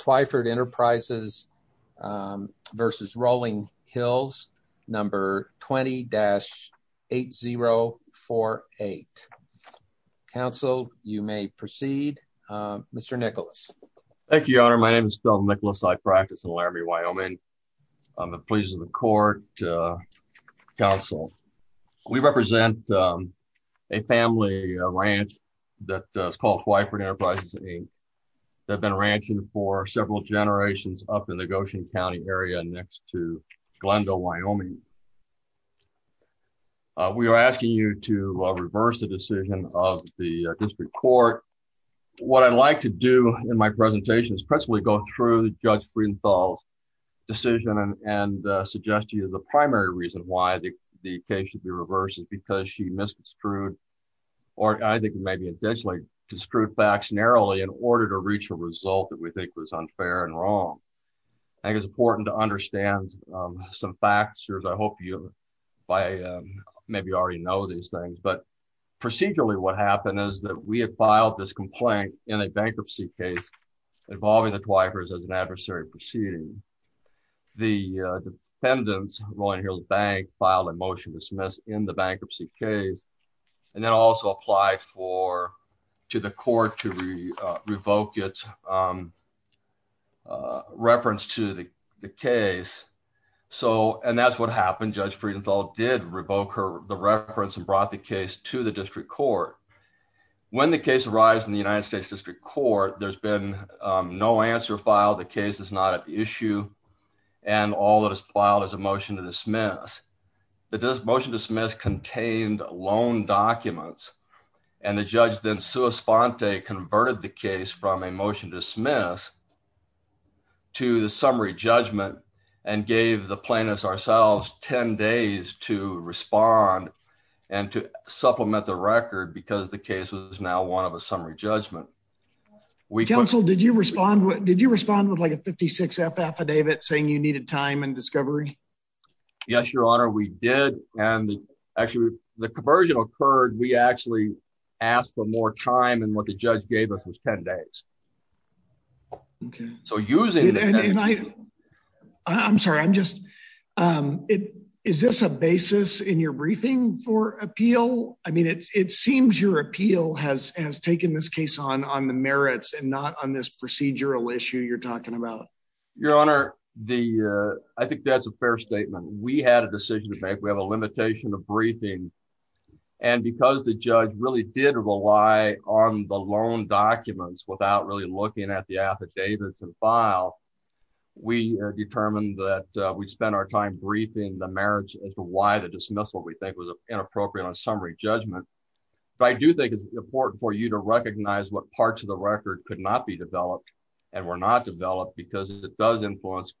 20-8048. Council, you may proceed. Mr. Nicholas. Thank you, Your Honor. My name is Phil Nicholas. I practice in Laramie, Wyoming. I'm a pleasant of the court. Council, we represent a family ranch that's called Whiteford Enterprises, Inc. They've been ranching for several generations up in the Goshen County area next to Glendale, Wyoming. We are asking you to reverse the decision of the district court. What I'd like to do in my presentation is principally go through Judge Friedenthal's decision and suggest to you the primary reason why the case should because she misconstrued or I think maybe intentionally construed facts narrowly in order to reach a result that we think was unfair and wrong. I think it's important to understand some facts. I hope you by maybe already know these things. But procedurally, what happened is that we had filed this complaint in a bankruptcy case involving the Twifers as an adversary proceeding. The defendants, Rowan Hills Bank, filed a motion to dismiss in the bankruptcy case and then also applied to the court to revoke its reference to the case. And that's what happened. Judge Friedenthal did revoke the reference and brought the case to the district court. When the case arrives in the United States District Court, there's been no answer filed. The case is not at issue and all that is filed is a motion to dismiss. The motion to dismiss contained loan documents and the judge then sua sponte converted the case from a motion to dismiss to the summary judgment and gave the plaintiffs ourselves 10 days to respond and to supplement the record because the case was now one of a summary judgment. We counsel did you respond? What did you respond with like a 56 F affidavit saying you needed time and discovery? Yes, Your Honor, we did. And actually, the conversion occurred, we actually asked for more time and what the judge gave us was 10 days. Okay, so using I'm sorry, I'm just it. Is this a basis in your briefing for appeal? I mean, it seems your appeal has has taken this case on on the merits and not on this procedural issue you're talking about. Your Honor, the I think that's a fair statement, we had a decision to make, we have a limitation of briefing. And because the judge really did rely on the loan documents without really looking at the affidavits and file, we determined that we spent our time briefing the merits as to why the judgment. But I do think it's important for you to recognize what parts of the record could not be developed. And we're not developed because it does influence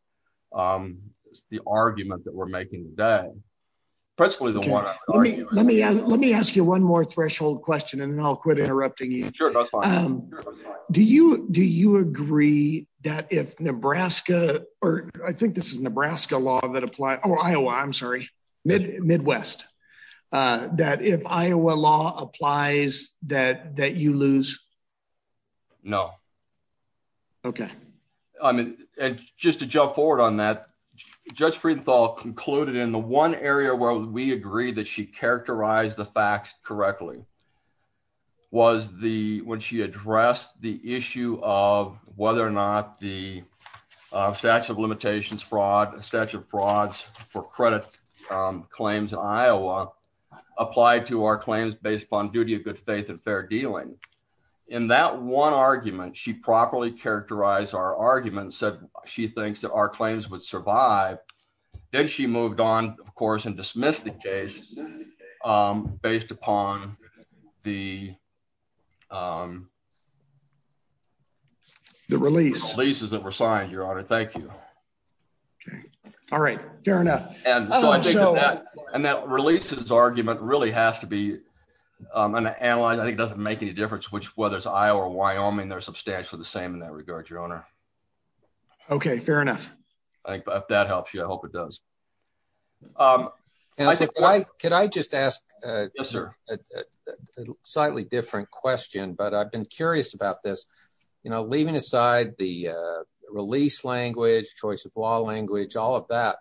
the argument that we're making today. Presently, the one let me let me ask you one more threshold question. And then I'll quit interrupting you. Do you do you agree that if Nebraska, or I think this is Nebraska law that or Iowa, I'm sorry, Midwest, that if Iowa law applies that that you lose? No. Okay. I mean, just to jump forward on that, Judge Friedenthal concluded in the one area where we agree that she characterized the facts correctly was the when she addressed the issue of whether or not the statute of limitations fraud statute of frauds for credit claims in Iowa applied to our claims based upon duty of good faith and fair dealing. In that one argument, she properly characterized our argument said she thinks that our claims would survive. Then she moved on, of course, and dismissed the case based upon the releases that were signed, Your Honor. Thank you. Okay. All right. Fair enough. And that releases argument really has to be an analyze. I think it doesn't make any difference which whether it's Iowa or Wyoming, they're substantially the same in that regard, Your Honor. Okay, fair enough. I think that helps you. I hope it does. Can I just ask a slightly different question, but I've been curious about this. Leaving aside the release language, choice of law language, all of that,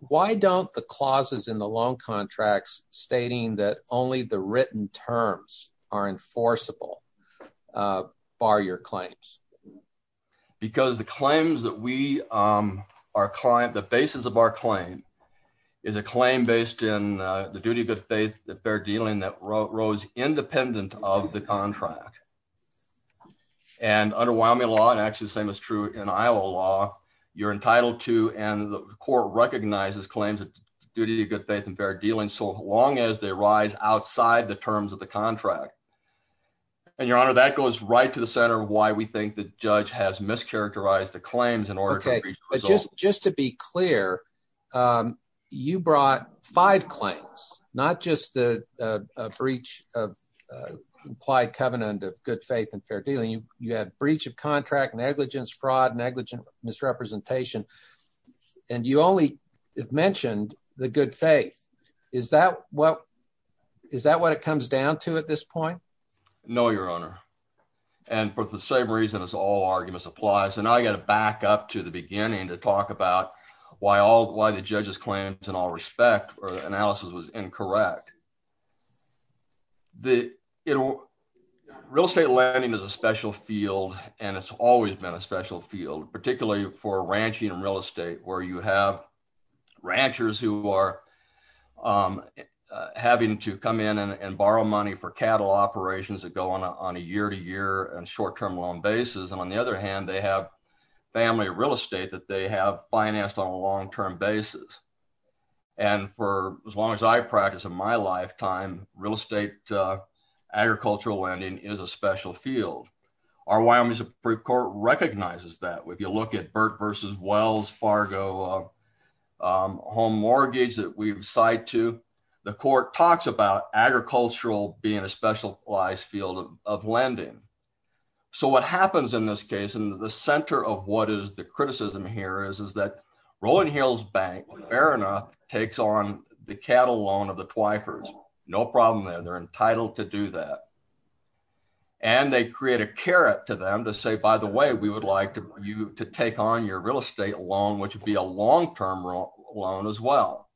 why don't the clauses in the loan contracts stating that only the written terms are enforceable bar your claims? Because the claims that we are client, the basis of our claim is a claim based in the duty of good faith, the fair dealing that rose independent of the contract. Okay. And under Wyoming law, and actually the same is true in Iowa law, you're entitled to, and the court recognizes claims of duty, good faith and fair dealing, so long as they rise outside the terms of the contract. And Your Honor, that goes right to the center of why we think the judge has mischaracterized the claims in order to reach. Just to be clear, you brought five claims, not just the breach of implied covenant of good faith and fair dealing. You have breach of contract, negligence, fraud, negligent misrepresentation, and you only have mentioned the good faith. Is that what it comes down to at this point? No, Your Honor. And for the same reason as all arguments apply. So now I got to back up to the beginning to talk about why the judge's claims in all respect or analysis was incorrect. Real estate lending is a special field and it's always been a special field, particularly for ranching and real estate, where you have ranchers who are having to come in and borrow money for cattle operations that go on a year to year and short term loan basis. And on the other hand, they have family real estate that they have financed on a long term basis. And for as long as I practice in my lifetime, real estate agricultural lending is a special field. Our Wyoming Supreme Court recognizes that. If you look at Burt versus Wells Fargo home mortgage that we've cited to, the court talks about agricultural being a specialized field of lending. So what happens in this case and the center of what is the criticism here is, is that Rolling Hills Bank, fair enough, takes on the cattle loan of the Twyfers. No problem there. They're entitled to do that. And they create a carrot to them to say, by the way, we would like you to take on your real estate loan, which would be a long term loan as well.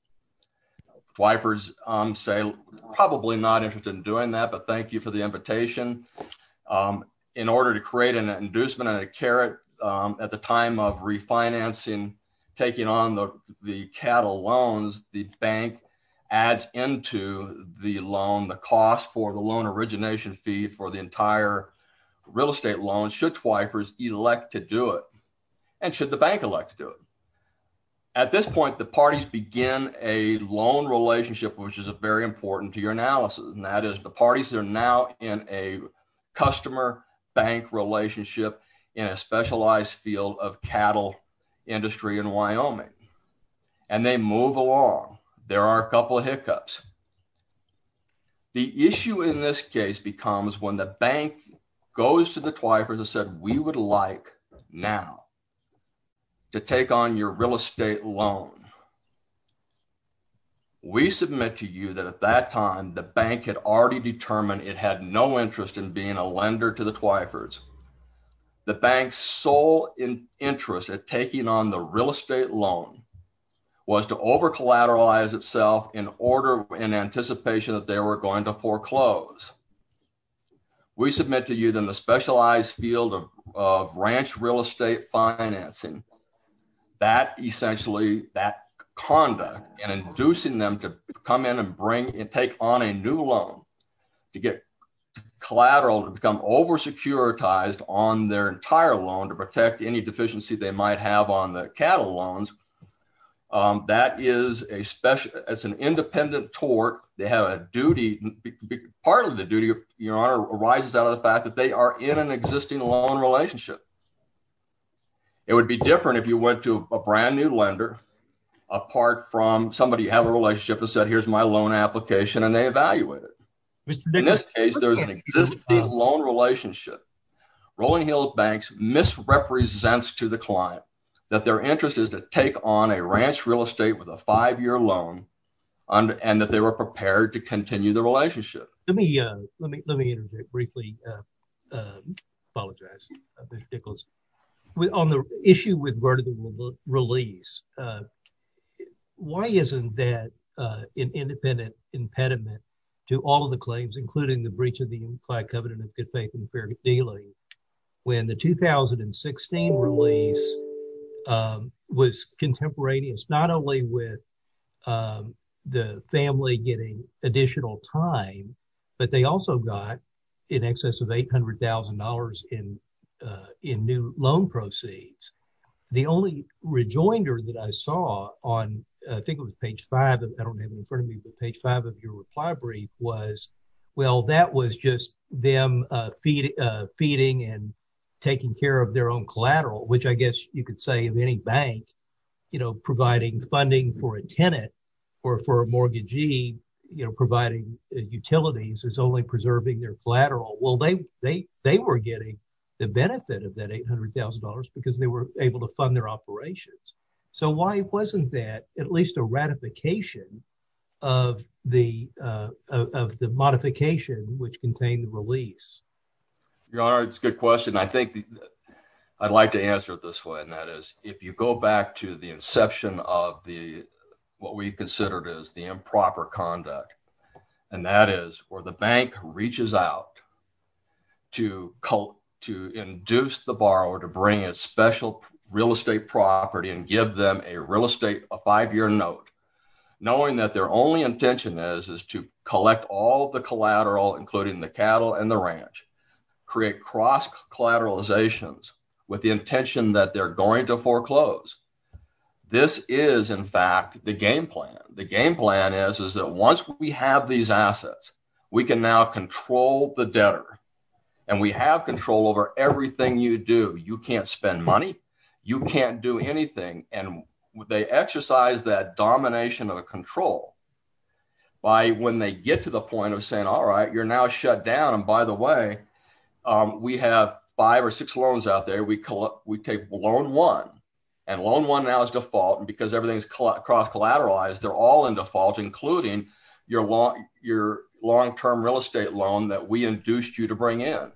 Twyfers say probably not interested in doing that, but thank you for the invitation in order to create an inducement and a carrot at the time of refinancing, taking on the cattle loans, the bank adds into the loan, the cost for the loan origination fee for the entire real estate loan should Twyfers elect to do it. And should the bank elect to do it? At this point, the parties begin a loan relationship, which is a very important to your analysis. And that is the parties are now in a customer bank relationship in a specialized field of cattle industry in Wyoming. And they move along. There are a couple of hiccups. The issue in this case becomes when the bank goes to the Twyfers and said, we would like now to take on your real estate loan. We submit to you that at that time, the bank had already determined it had no interest in being a lender to the Twyfers. The bank's sole interest at taking on the real estate loan was to over collateralize itself in order in anticipation that they were going to foreclose. We submit to you than the specialized field of ranch real estate financing that essentially that conduct and inducing them to come in and bring and take on a new loan to get collateral to become over securitized on their entire loan to protect any deficiency they might have on the cattle loans. That is a special as an independent tort. They have a duty. Part of this is arises out of the fact that they are in an existing loan relationship. It would be different if you went to a brand new lender, apart from somebody have a relationship and said, here's my loan application and they evaluate it. In this case, there's an existing loan relationship. Rolling Hill Banks misrepresents to the client that their interest is to take on a ranch real estate with a five-year loan and that they were prepared to continue the relationship. Let me interject briefly. Apologize. On the issue with release, why isn't that an independent impediment to all of the claims, including the breach of the unified covenant of good faith and fair dealing when the 2016 release was contemporaneous, not only with the family getting additional time, but they also got in excess of $800,000 in new loan proceeds. The only rejoinder that I saw on, I think it was page five of your reply brief was, well, that was just them feeding and taking care of their own collateral, which I guess you could say of any bank, providing funding for a tenant or for a mortgagee, providing utilities is only preserving their collateral. Well, they were getting the benefit of that $800,000 because they were able to fund their operations. Why wasn't that at least a ratification of the modification which contained the release? Your honor, it's a good question. I'd like to if you go back to the inception of what we considered as the improper conduct, and that is where the bank reaches out to induce the borrower to bring a special real estate property and give them a real estate, a five-year note, knowing that their only intention is to collect all the collateral, including the cattle and the ranch, create cross collateralizations with the intention that they're going to foreclose. This is, in fact, the game plan. The game plan is that once we have these assets, we can now control the debtor, and we have control over everything you do. You can't spend money. You can't do anything. They exercise that domination of control by when they get to the point of saying, all right, you're now shut down. By the way, we have five or six loans out there. We take loan one, and loan one now is default. Because everything is cross collateralized, they're all in default, including your long-term real estate loan that we induced you to bring in.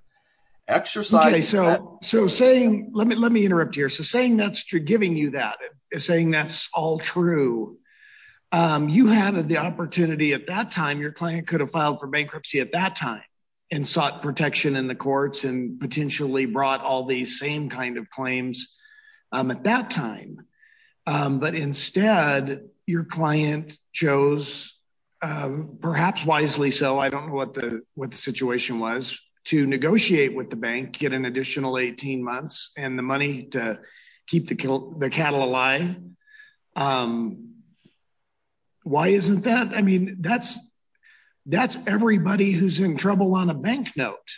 Let me interrupt here. Saying that's true, giving you that, saying that's all true, you had the opportunity at that time, your client could have filed for bankruptcy at that time and sought protection in the courts and potentially brought all these same claims at that time. Instead, your client chose, perhaps wisely so, I don't know what the situation was, to negotiate with the bank, get an additional 18 months and the money to keep the cattle alive. Why isn't that? That's everybody who's in trouble on a bank note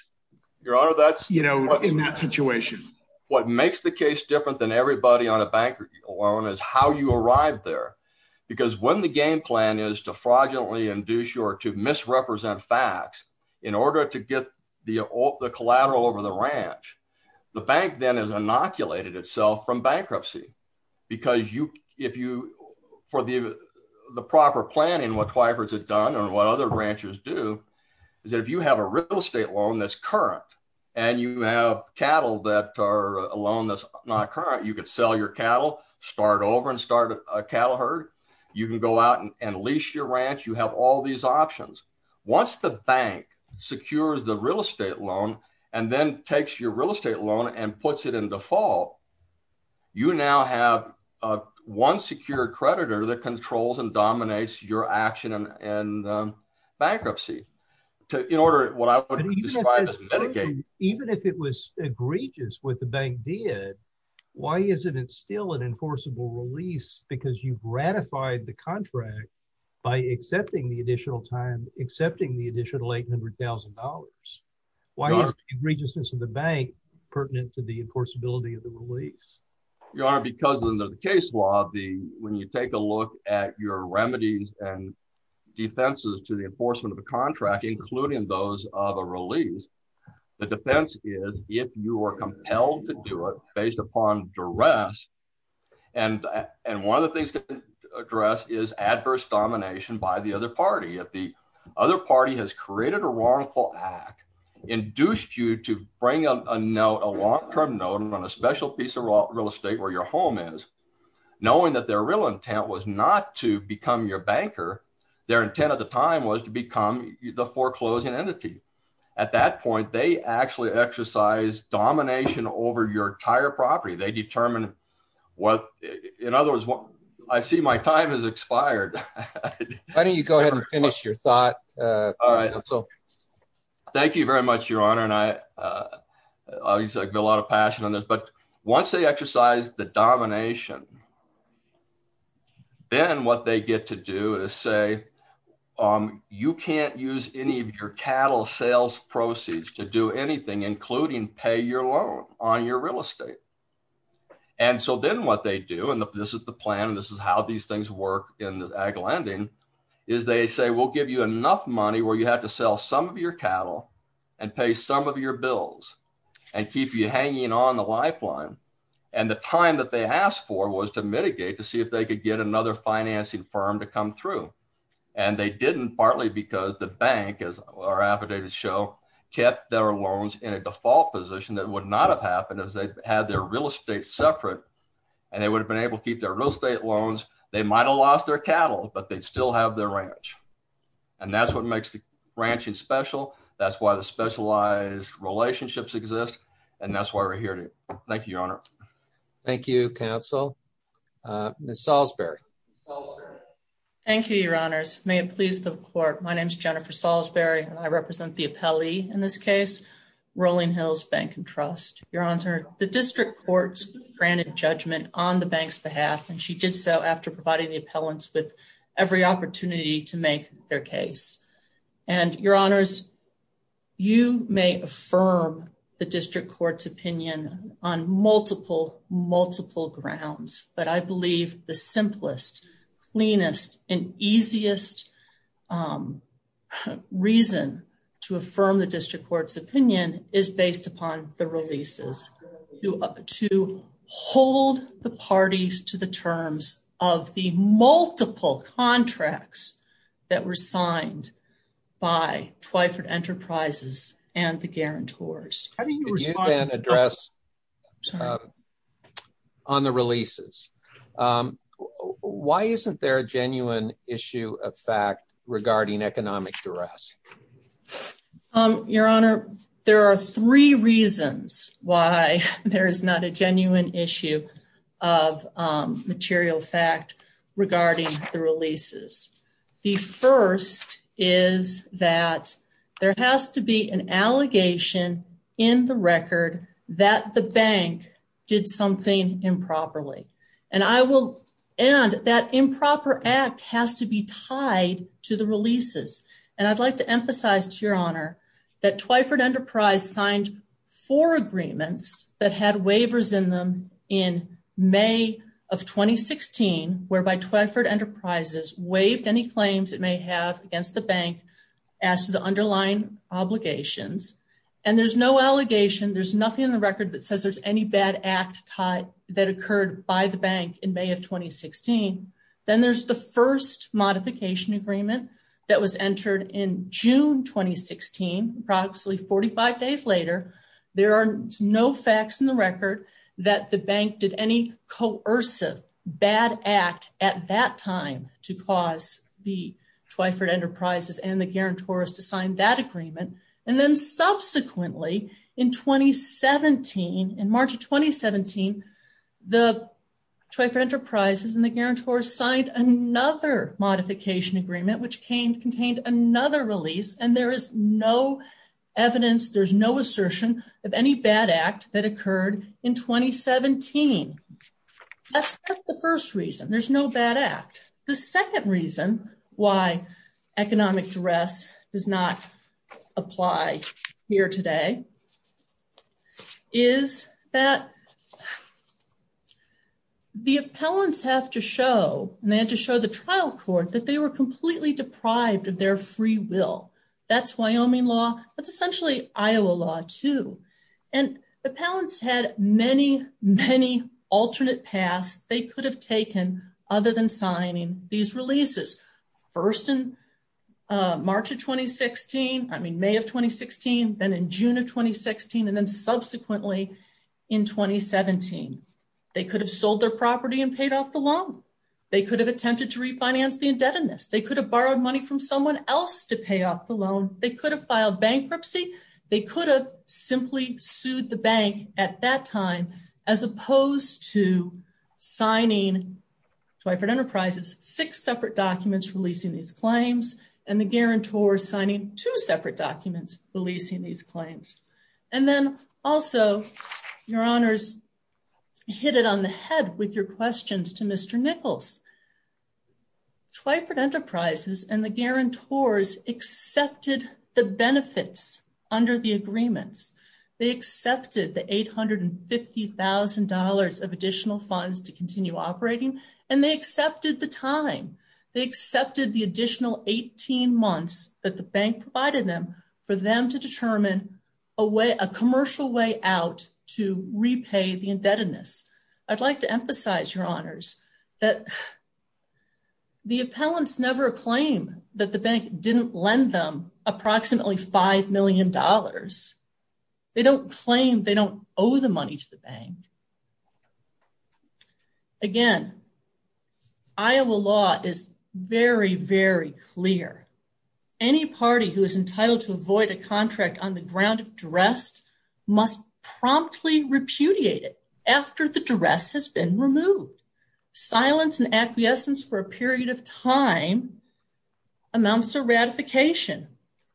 in that situation. What makes the case different than everybody on a bank loan is how you arrived there. Because when the game plan is to fraudulently induce you or to misrepresent facts in order to get the collateral over the ranch, the bank then has inoculated itself from bankruptcy. Because for the proper planning, what Twyford has done and what other ranchers do, is that if you have a real estate loan that's current, and you have cattle that are a loan that's not current, you could sell your cattle, start over and start a cattle herd. You can go out and lease your ranch, you have all these options. Once the bank secures the real estate loan, and then takes your real estate loan and puts it in default, you now have one secure creditor that controls and dominates your action and bankruptcy. In order, what I would describe as medicated. Even if it was egregious what the bank did, why isn't it still an enforceable release? Because you've ratified the contract by accepting the additional time, accepting the egregiousness of the bank pertinent to the enforceability of the release. Your Honor, because in the case law, when you take a look at your remedies and defenses to the enforcement of the contract, including those of a release, the defense is if you are compelled to do it based upon duress. And one of the things to address is adverse domination by the other induced you to bring a note, a long-term note on a special piece of real estate where your home is, knowing that their real intent was not to become your banker. Their intent at the time was to become the foreclosing entity. At that point, they actually exercise domination over your entire property. They determine what, in other words, I see my time has expired. Why don't you go ahead and finish your thought. All right. So thank you very much, Your Honor. And I obviously I've got a lot of passion on this, but once they exercise the domination, then what they get to do is say, you can't use any of your cattle sales proceeds to do anything, including pay your loan on your real estate. And so then what they do, and this is the plan, this is how these things work in ag lending, is they say, we'll give you enough money where you have to sell some of your cattle and pay some of your bills and keep you hanging on the lifeline. And the time that they asked for was to mitigate to see if they could get another financing firm to come through. And they didn't partly because the bank, as our affidavits show, kept their loans in a default position that would not have happened as they had their real estate separate. And they would have been able to keep their real estate loans. They might have lost their cattle, but they'd still have their ranch. And that's what makes the ranching special. That's why the specialized relationships exist. And that's why we're here. Thank you, Your Honor. Thank you, Counsel. Ms. Salisbury. Thank you, Your Honors. May it please the court. My name is Jennifer Salisbury and I represent the appellee in this case, Rolling Hills Bank and Trust. Your Honor, the district courts granted judgment on the bank's behalf and she did so after providing the appellants with every opportunity to make their case. And Your Honors, you may affirm the district court's opinion on multiple, multiple grounds. But I believe the simplest, cleanest, and easiest reason to affirm the district court's opinion is based upon the releases. To hold the parties to the terms of the multiple contracts that were signed by Twyford Enterprises and the guarantors. Can you then address on the releases? Why isn't there a genuine issue of fact regarding economic duress? Um, Your Honor, there are three reasons why there is not a genuine issue of material fact regarding the releases. The first is that there has to be an allegation in the record that the bank did something improperly. And I will, and that improper act has to be tied to the releases. And I'd like to emphasize to Your Honor that Twyford Enterprise signed four agreements that had waivers in them in May of 2016, whereby Twyford Enterprises waived any claims it may have against the bank as to the underlying obligations. And there's no allegation, there's nothing in the record that says there's any bad act that occurred by the bank in May of 2016. Then there's the first modification agreement that was entered in June 2016, approximately 45 days later. There are no facts in the record that the bank did any coercive bad act at that time to cause the Twyford Enterprises and the guarantors to sign that the Twyford Enterprises and the guarantors signed another modification agreement, which came contained another release. And there is no evidence, there's no assertion of any bad act that occurred in 2017. That's the first reason, there's no bad act. The second reason why economic duress does not apply here today is that the appellants have to show and they had to show the trial court that they were completely deprived of their free will. That's Wyoming law, that's essentially Iowa law too. And the appellants had many, many alternate paths they could have taken other than signing these releases. First in March of 2016, I mean May of 2016, then in June of 2016, and then subsequently in 2017. They could have sold their property and paid off the loan. They could have attempted to refinance the indebtedness. They could have borrowed money from someone else to pay off the loan. They could have filed bankruptcy. They could have sued the bank at that time as opposed to signing Twyford Enterprises six separate documents releasing these claims and the guarantor signing two separate documents releasing these claims. And then also, your honors, hit it on the head with your questions to Mr. Nichols. Twyford Enterprises and the guarantors accepted the benefits under the agreements. They accepted the $850,000 of additional funds to continue operating and they accepted the time. They accepted the additional 18 months that the bank provided them for them to determine a way a commercial way out to repay the indebtedness. I'd like to emphasize, your honors, that the appellants never claim that the bank didn't lend them approximately $5 million. They don't claim they don't owe the money to the bank. Again, Iowa law is very, very clear. Any party who is entitled to avoid a contract on the ground of after the duress has been removed. Silence and acquiescence for a period of time amounts to ratification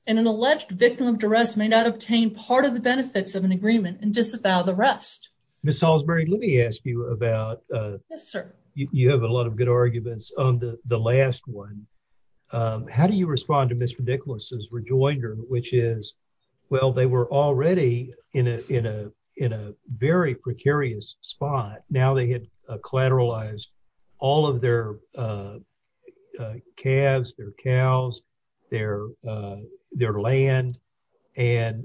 and an alleged victim of duress may not obtain part of the benefits of an agreement and disavow the rest. Ms. Salisbury, let me ask you about... Yes, sir. You have a lot of good arguments on the last one. How do you respond to Mr. Spahn? Now, they had collateralized all of their calves, their cows, their land, and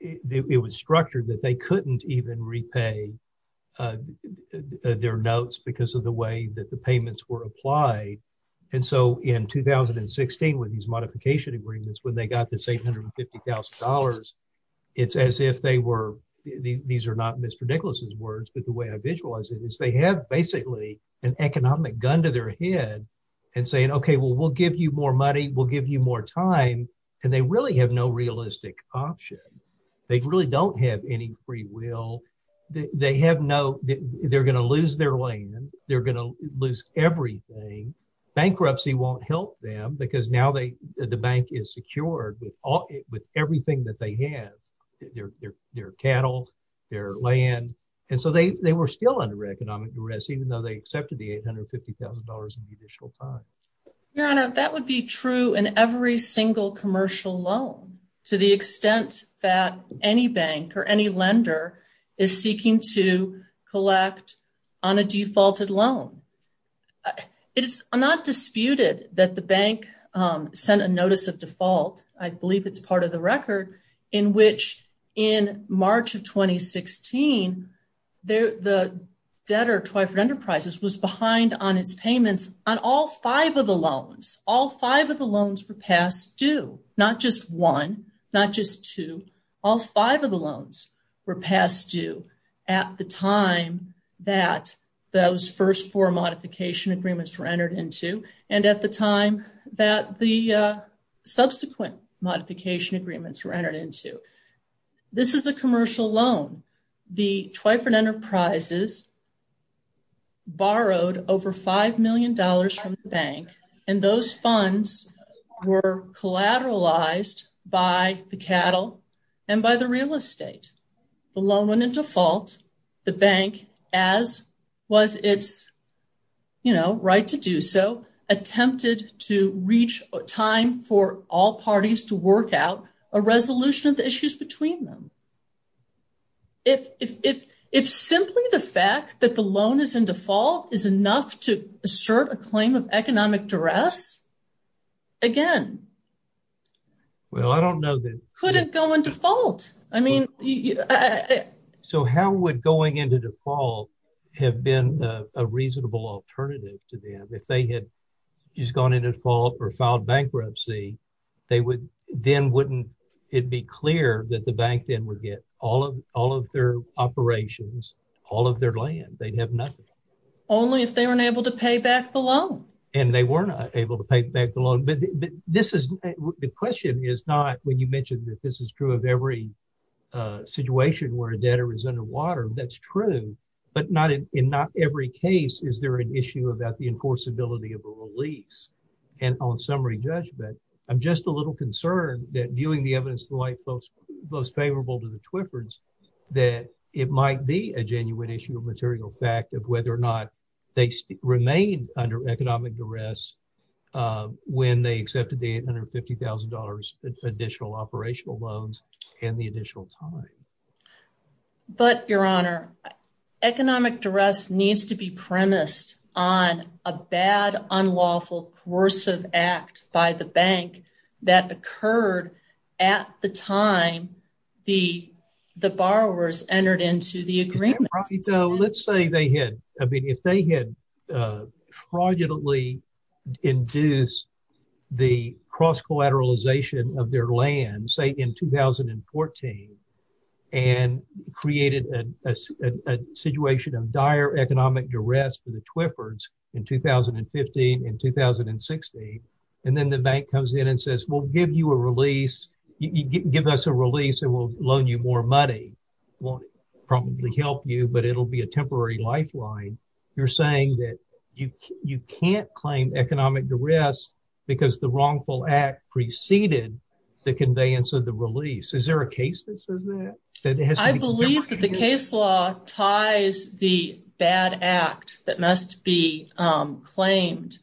it was structured that they couldn't even repay their notes because of the way that the payments were applied. In 2016, with these modification agreements, when they got this $850,000, it's as if they were... These are not Mr. Nicholas's words, but the way I visualize it is they have basically an economic gun to their head and saying, okay, well, we'll give you more money, we'll give you more time, and they really have no realistic option. They really don't have any free will. They're going to lose their land. They're going to lose everything. Bankruptcy won't help because now the bank is secured with everything that they have, their cattle, their land, and so they were still under economic duress even though they accepted the $850,000 in the initial time. Your Honor, that would be true in every single commercial loan to the extent that any bank or any lender is seeking to collect on a defaulted loan. It is not disputed that the bank sent a notice of default, I believe it's part of the record, in which in March of 2016, the debtor, Twyford Enterprises, was behind on its payments on all five of the loans. All five of the loans were passed due, not just one, not just two. All five of the loans were passed due at the time that those first four modification agreements were entered into, and at the time that the subsequent modification agreements were entered into. This is a commercial loan. The Twyford Enterprises borrowed over $5 million from the bank, and those funds were collateralized by the cattle and by the real estate. The loan went into default. The bank, as was its right to do so, attempted to reach a time for all parties to work out a resolution of the issues between them. If simply the fact that the loan is in default is enough to assert a claim of economic duress, again, couldn't go in default. I mean... So how would going into default have been a reasonable alternative to them? If they had just gone into default or filed bankruptcy, then wouldn't it be clear that the bank then would get all of their operations, all of their land? They'd have nothing. Only if they weren't able to pay back the loan. And they were not able to pay back the loan. The question is not, you mentioned that this is true of every situation where a debtor is underwater. That's true, but in not every case is there an issue about the enforceability of a release. And on summary judgment, I'm just a little concerned that viewing the evidence to the light most favorable to the Twyfords, that it might be a genuine issue of material fact of they remained under economic duress when they accepted the $850,000 additional operational loans and the additional time. But your honor, economic duress needs to be premised on a bad, unlawful, coercive act by the bank that occurred at the time the borrowers entered into the bank. If they had fraudulently induced the cross-collateralization of their land, say in 2014, and created a situation of dire economic duress for the Twyfords in 2015 and 2016, and then the bank comes in and says, we'll give you a release, give us a release and we'll loan you more money, won't probably help you, but it'll be a temporary lifeline. You're saying that you can't claim economic duress because the wrongful act preceded the conveyance of the release. Is there a case that says that? I believe that the case law ties the bad act that must be agreement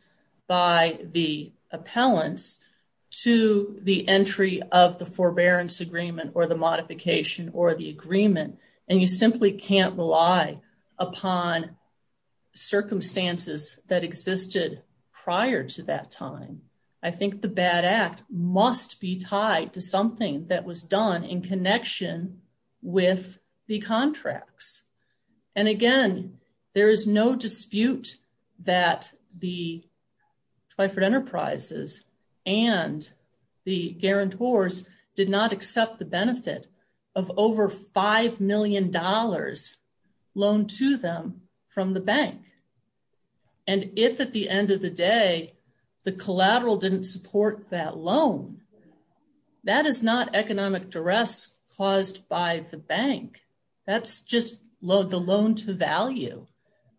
and you simply can't rely upon circumstances that existed prior to that time. I think the bad act must be tied to something that was done in connection with the contracts. And again, there is no dispute that the Twyford Enterprises and the guarantors did not accept the benefit of over $5 million loan to them from the bank. And if at the end of the day, the collateral didn't support that loan, that is not economic duress caused by the bank. That's just the loan to value.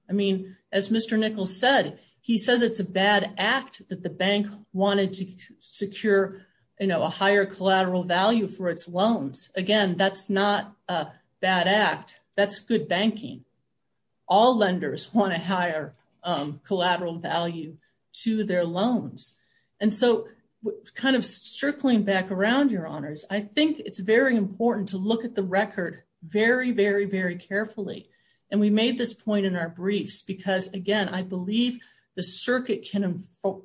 I mean, as Mr. Nichols said, he says it's a bad act that the bank wanted to secure a higher collateral value for its loans. Again, that's not a bad act. That's good banking. All lenders want a higher collateral value to their loans. And so kind of circling back around your honors, I think it's very important to look at the record very, very, very carefully. And we made this point in our briefs, because again, I believe the circuit can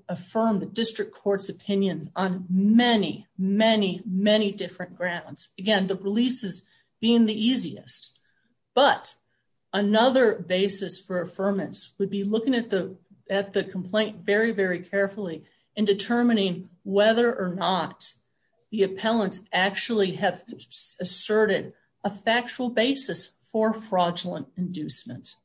affirm the district court's opinions on many, many, many different grounds. Again, the releases being the easiest. But another basis for affirmance would be looking at the complaint very, very carefully and determining whether or not the appellants actually have asserted a factual basis for fraudulent inducement.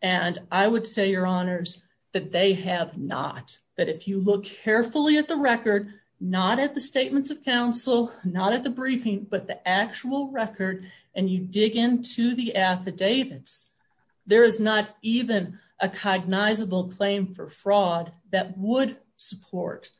And I would say your honors that they have not. But if you look carefully at the record, not at the statements of counsel, not at the briefing, but the actual record, and you dig into the affidavits, there is not even a cognizable claim for fraud that would support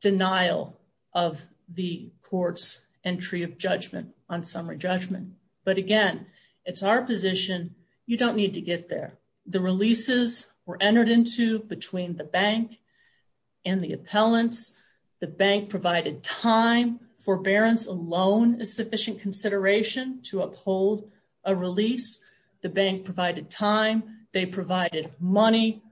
denial of the court's entry of judgment on summary judgment. But again, it's our position. You don't need to get there. The releases were entered into between the bank and the appellants. The bank provided time. Forbearance alone is sufficient consideration to uphold a release. The bank provided time. They provided money.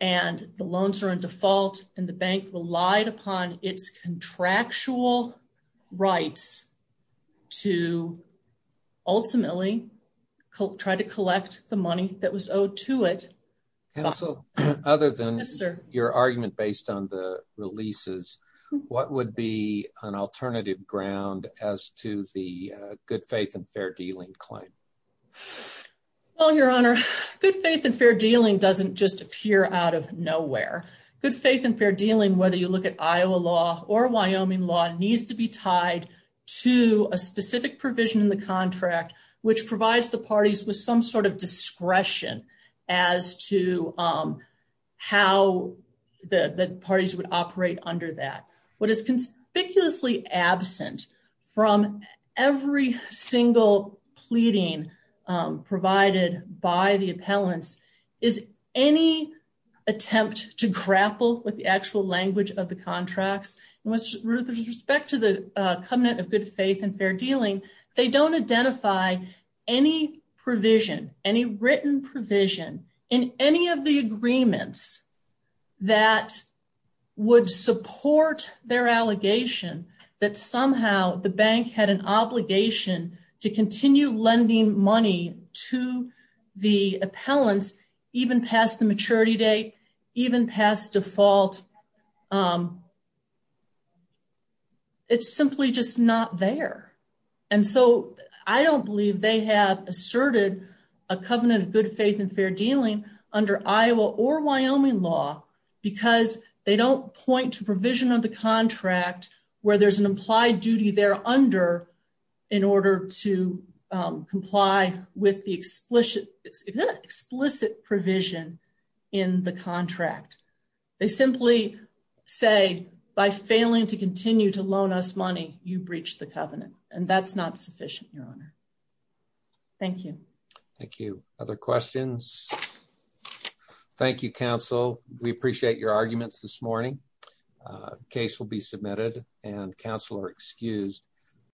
And the loans are in default. And the bank relied upon its contractual rights to ultimately try to collect the money that was owed to it. Counsel, other than your argument based on the releases, what would be an alternative ground as to the good faith and fair dealing claim? Well, your honor, good faith and fair dealing doesn't just appear out of nowhere. Good faith and fair dealing, whether you look at Iowa law or Wyoming law, needs to be tied to a specific provision in the contract, which provides the parties with some sort of discretion as to how the parties would operate under that. What is conspicuously absent from every single pleading provided by the appellants is any attempt to grapple with the actual language of the contracts. With respect to the covenant of good faith and fair dealing, they don't identify any provision, any written provision in any of the agreements that would support their allegation that somehow the bank had an obligation to continue lending money to the appellants even past the maturity date, even past default. It's simply just not there. I don't believe they have asserted a covenant of good faith and fair dealing under Iowa or Wyoming law because they don't point to provision of the contract where there's an implied duty there under in order to comply with the explicit provision in the contract. They simply say by failing to continue to loan us money, you breached the covenant and that's not sufficient, your honor. Thank you. Thank you. Other questions? Thank you, counsel. We appreciate your arguments this morning. Case will be submitted and counsel are excused.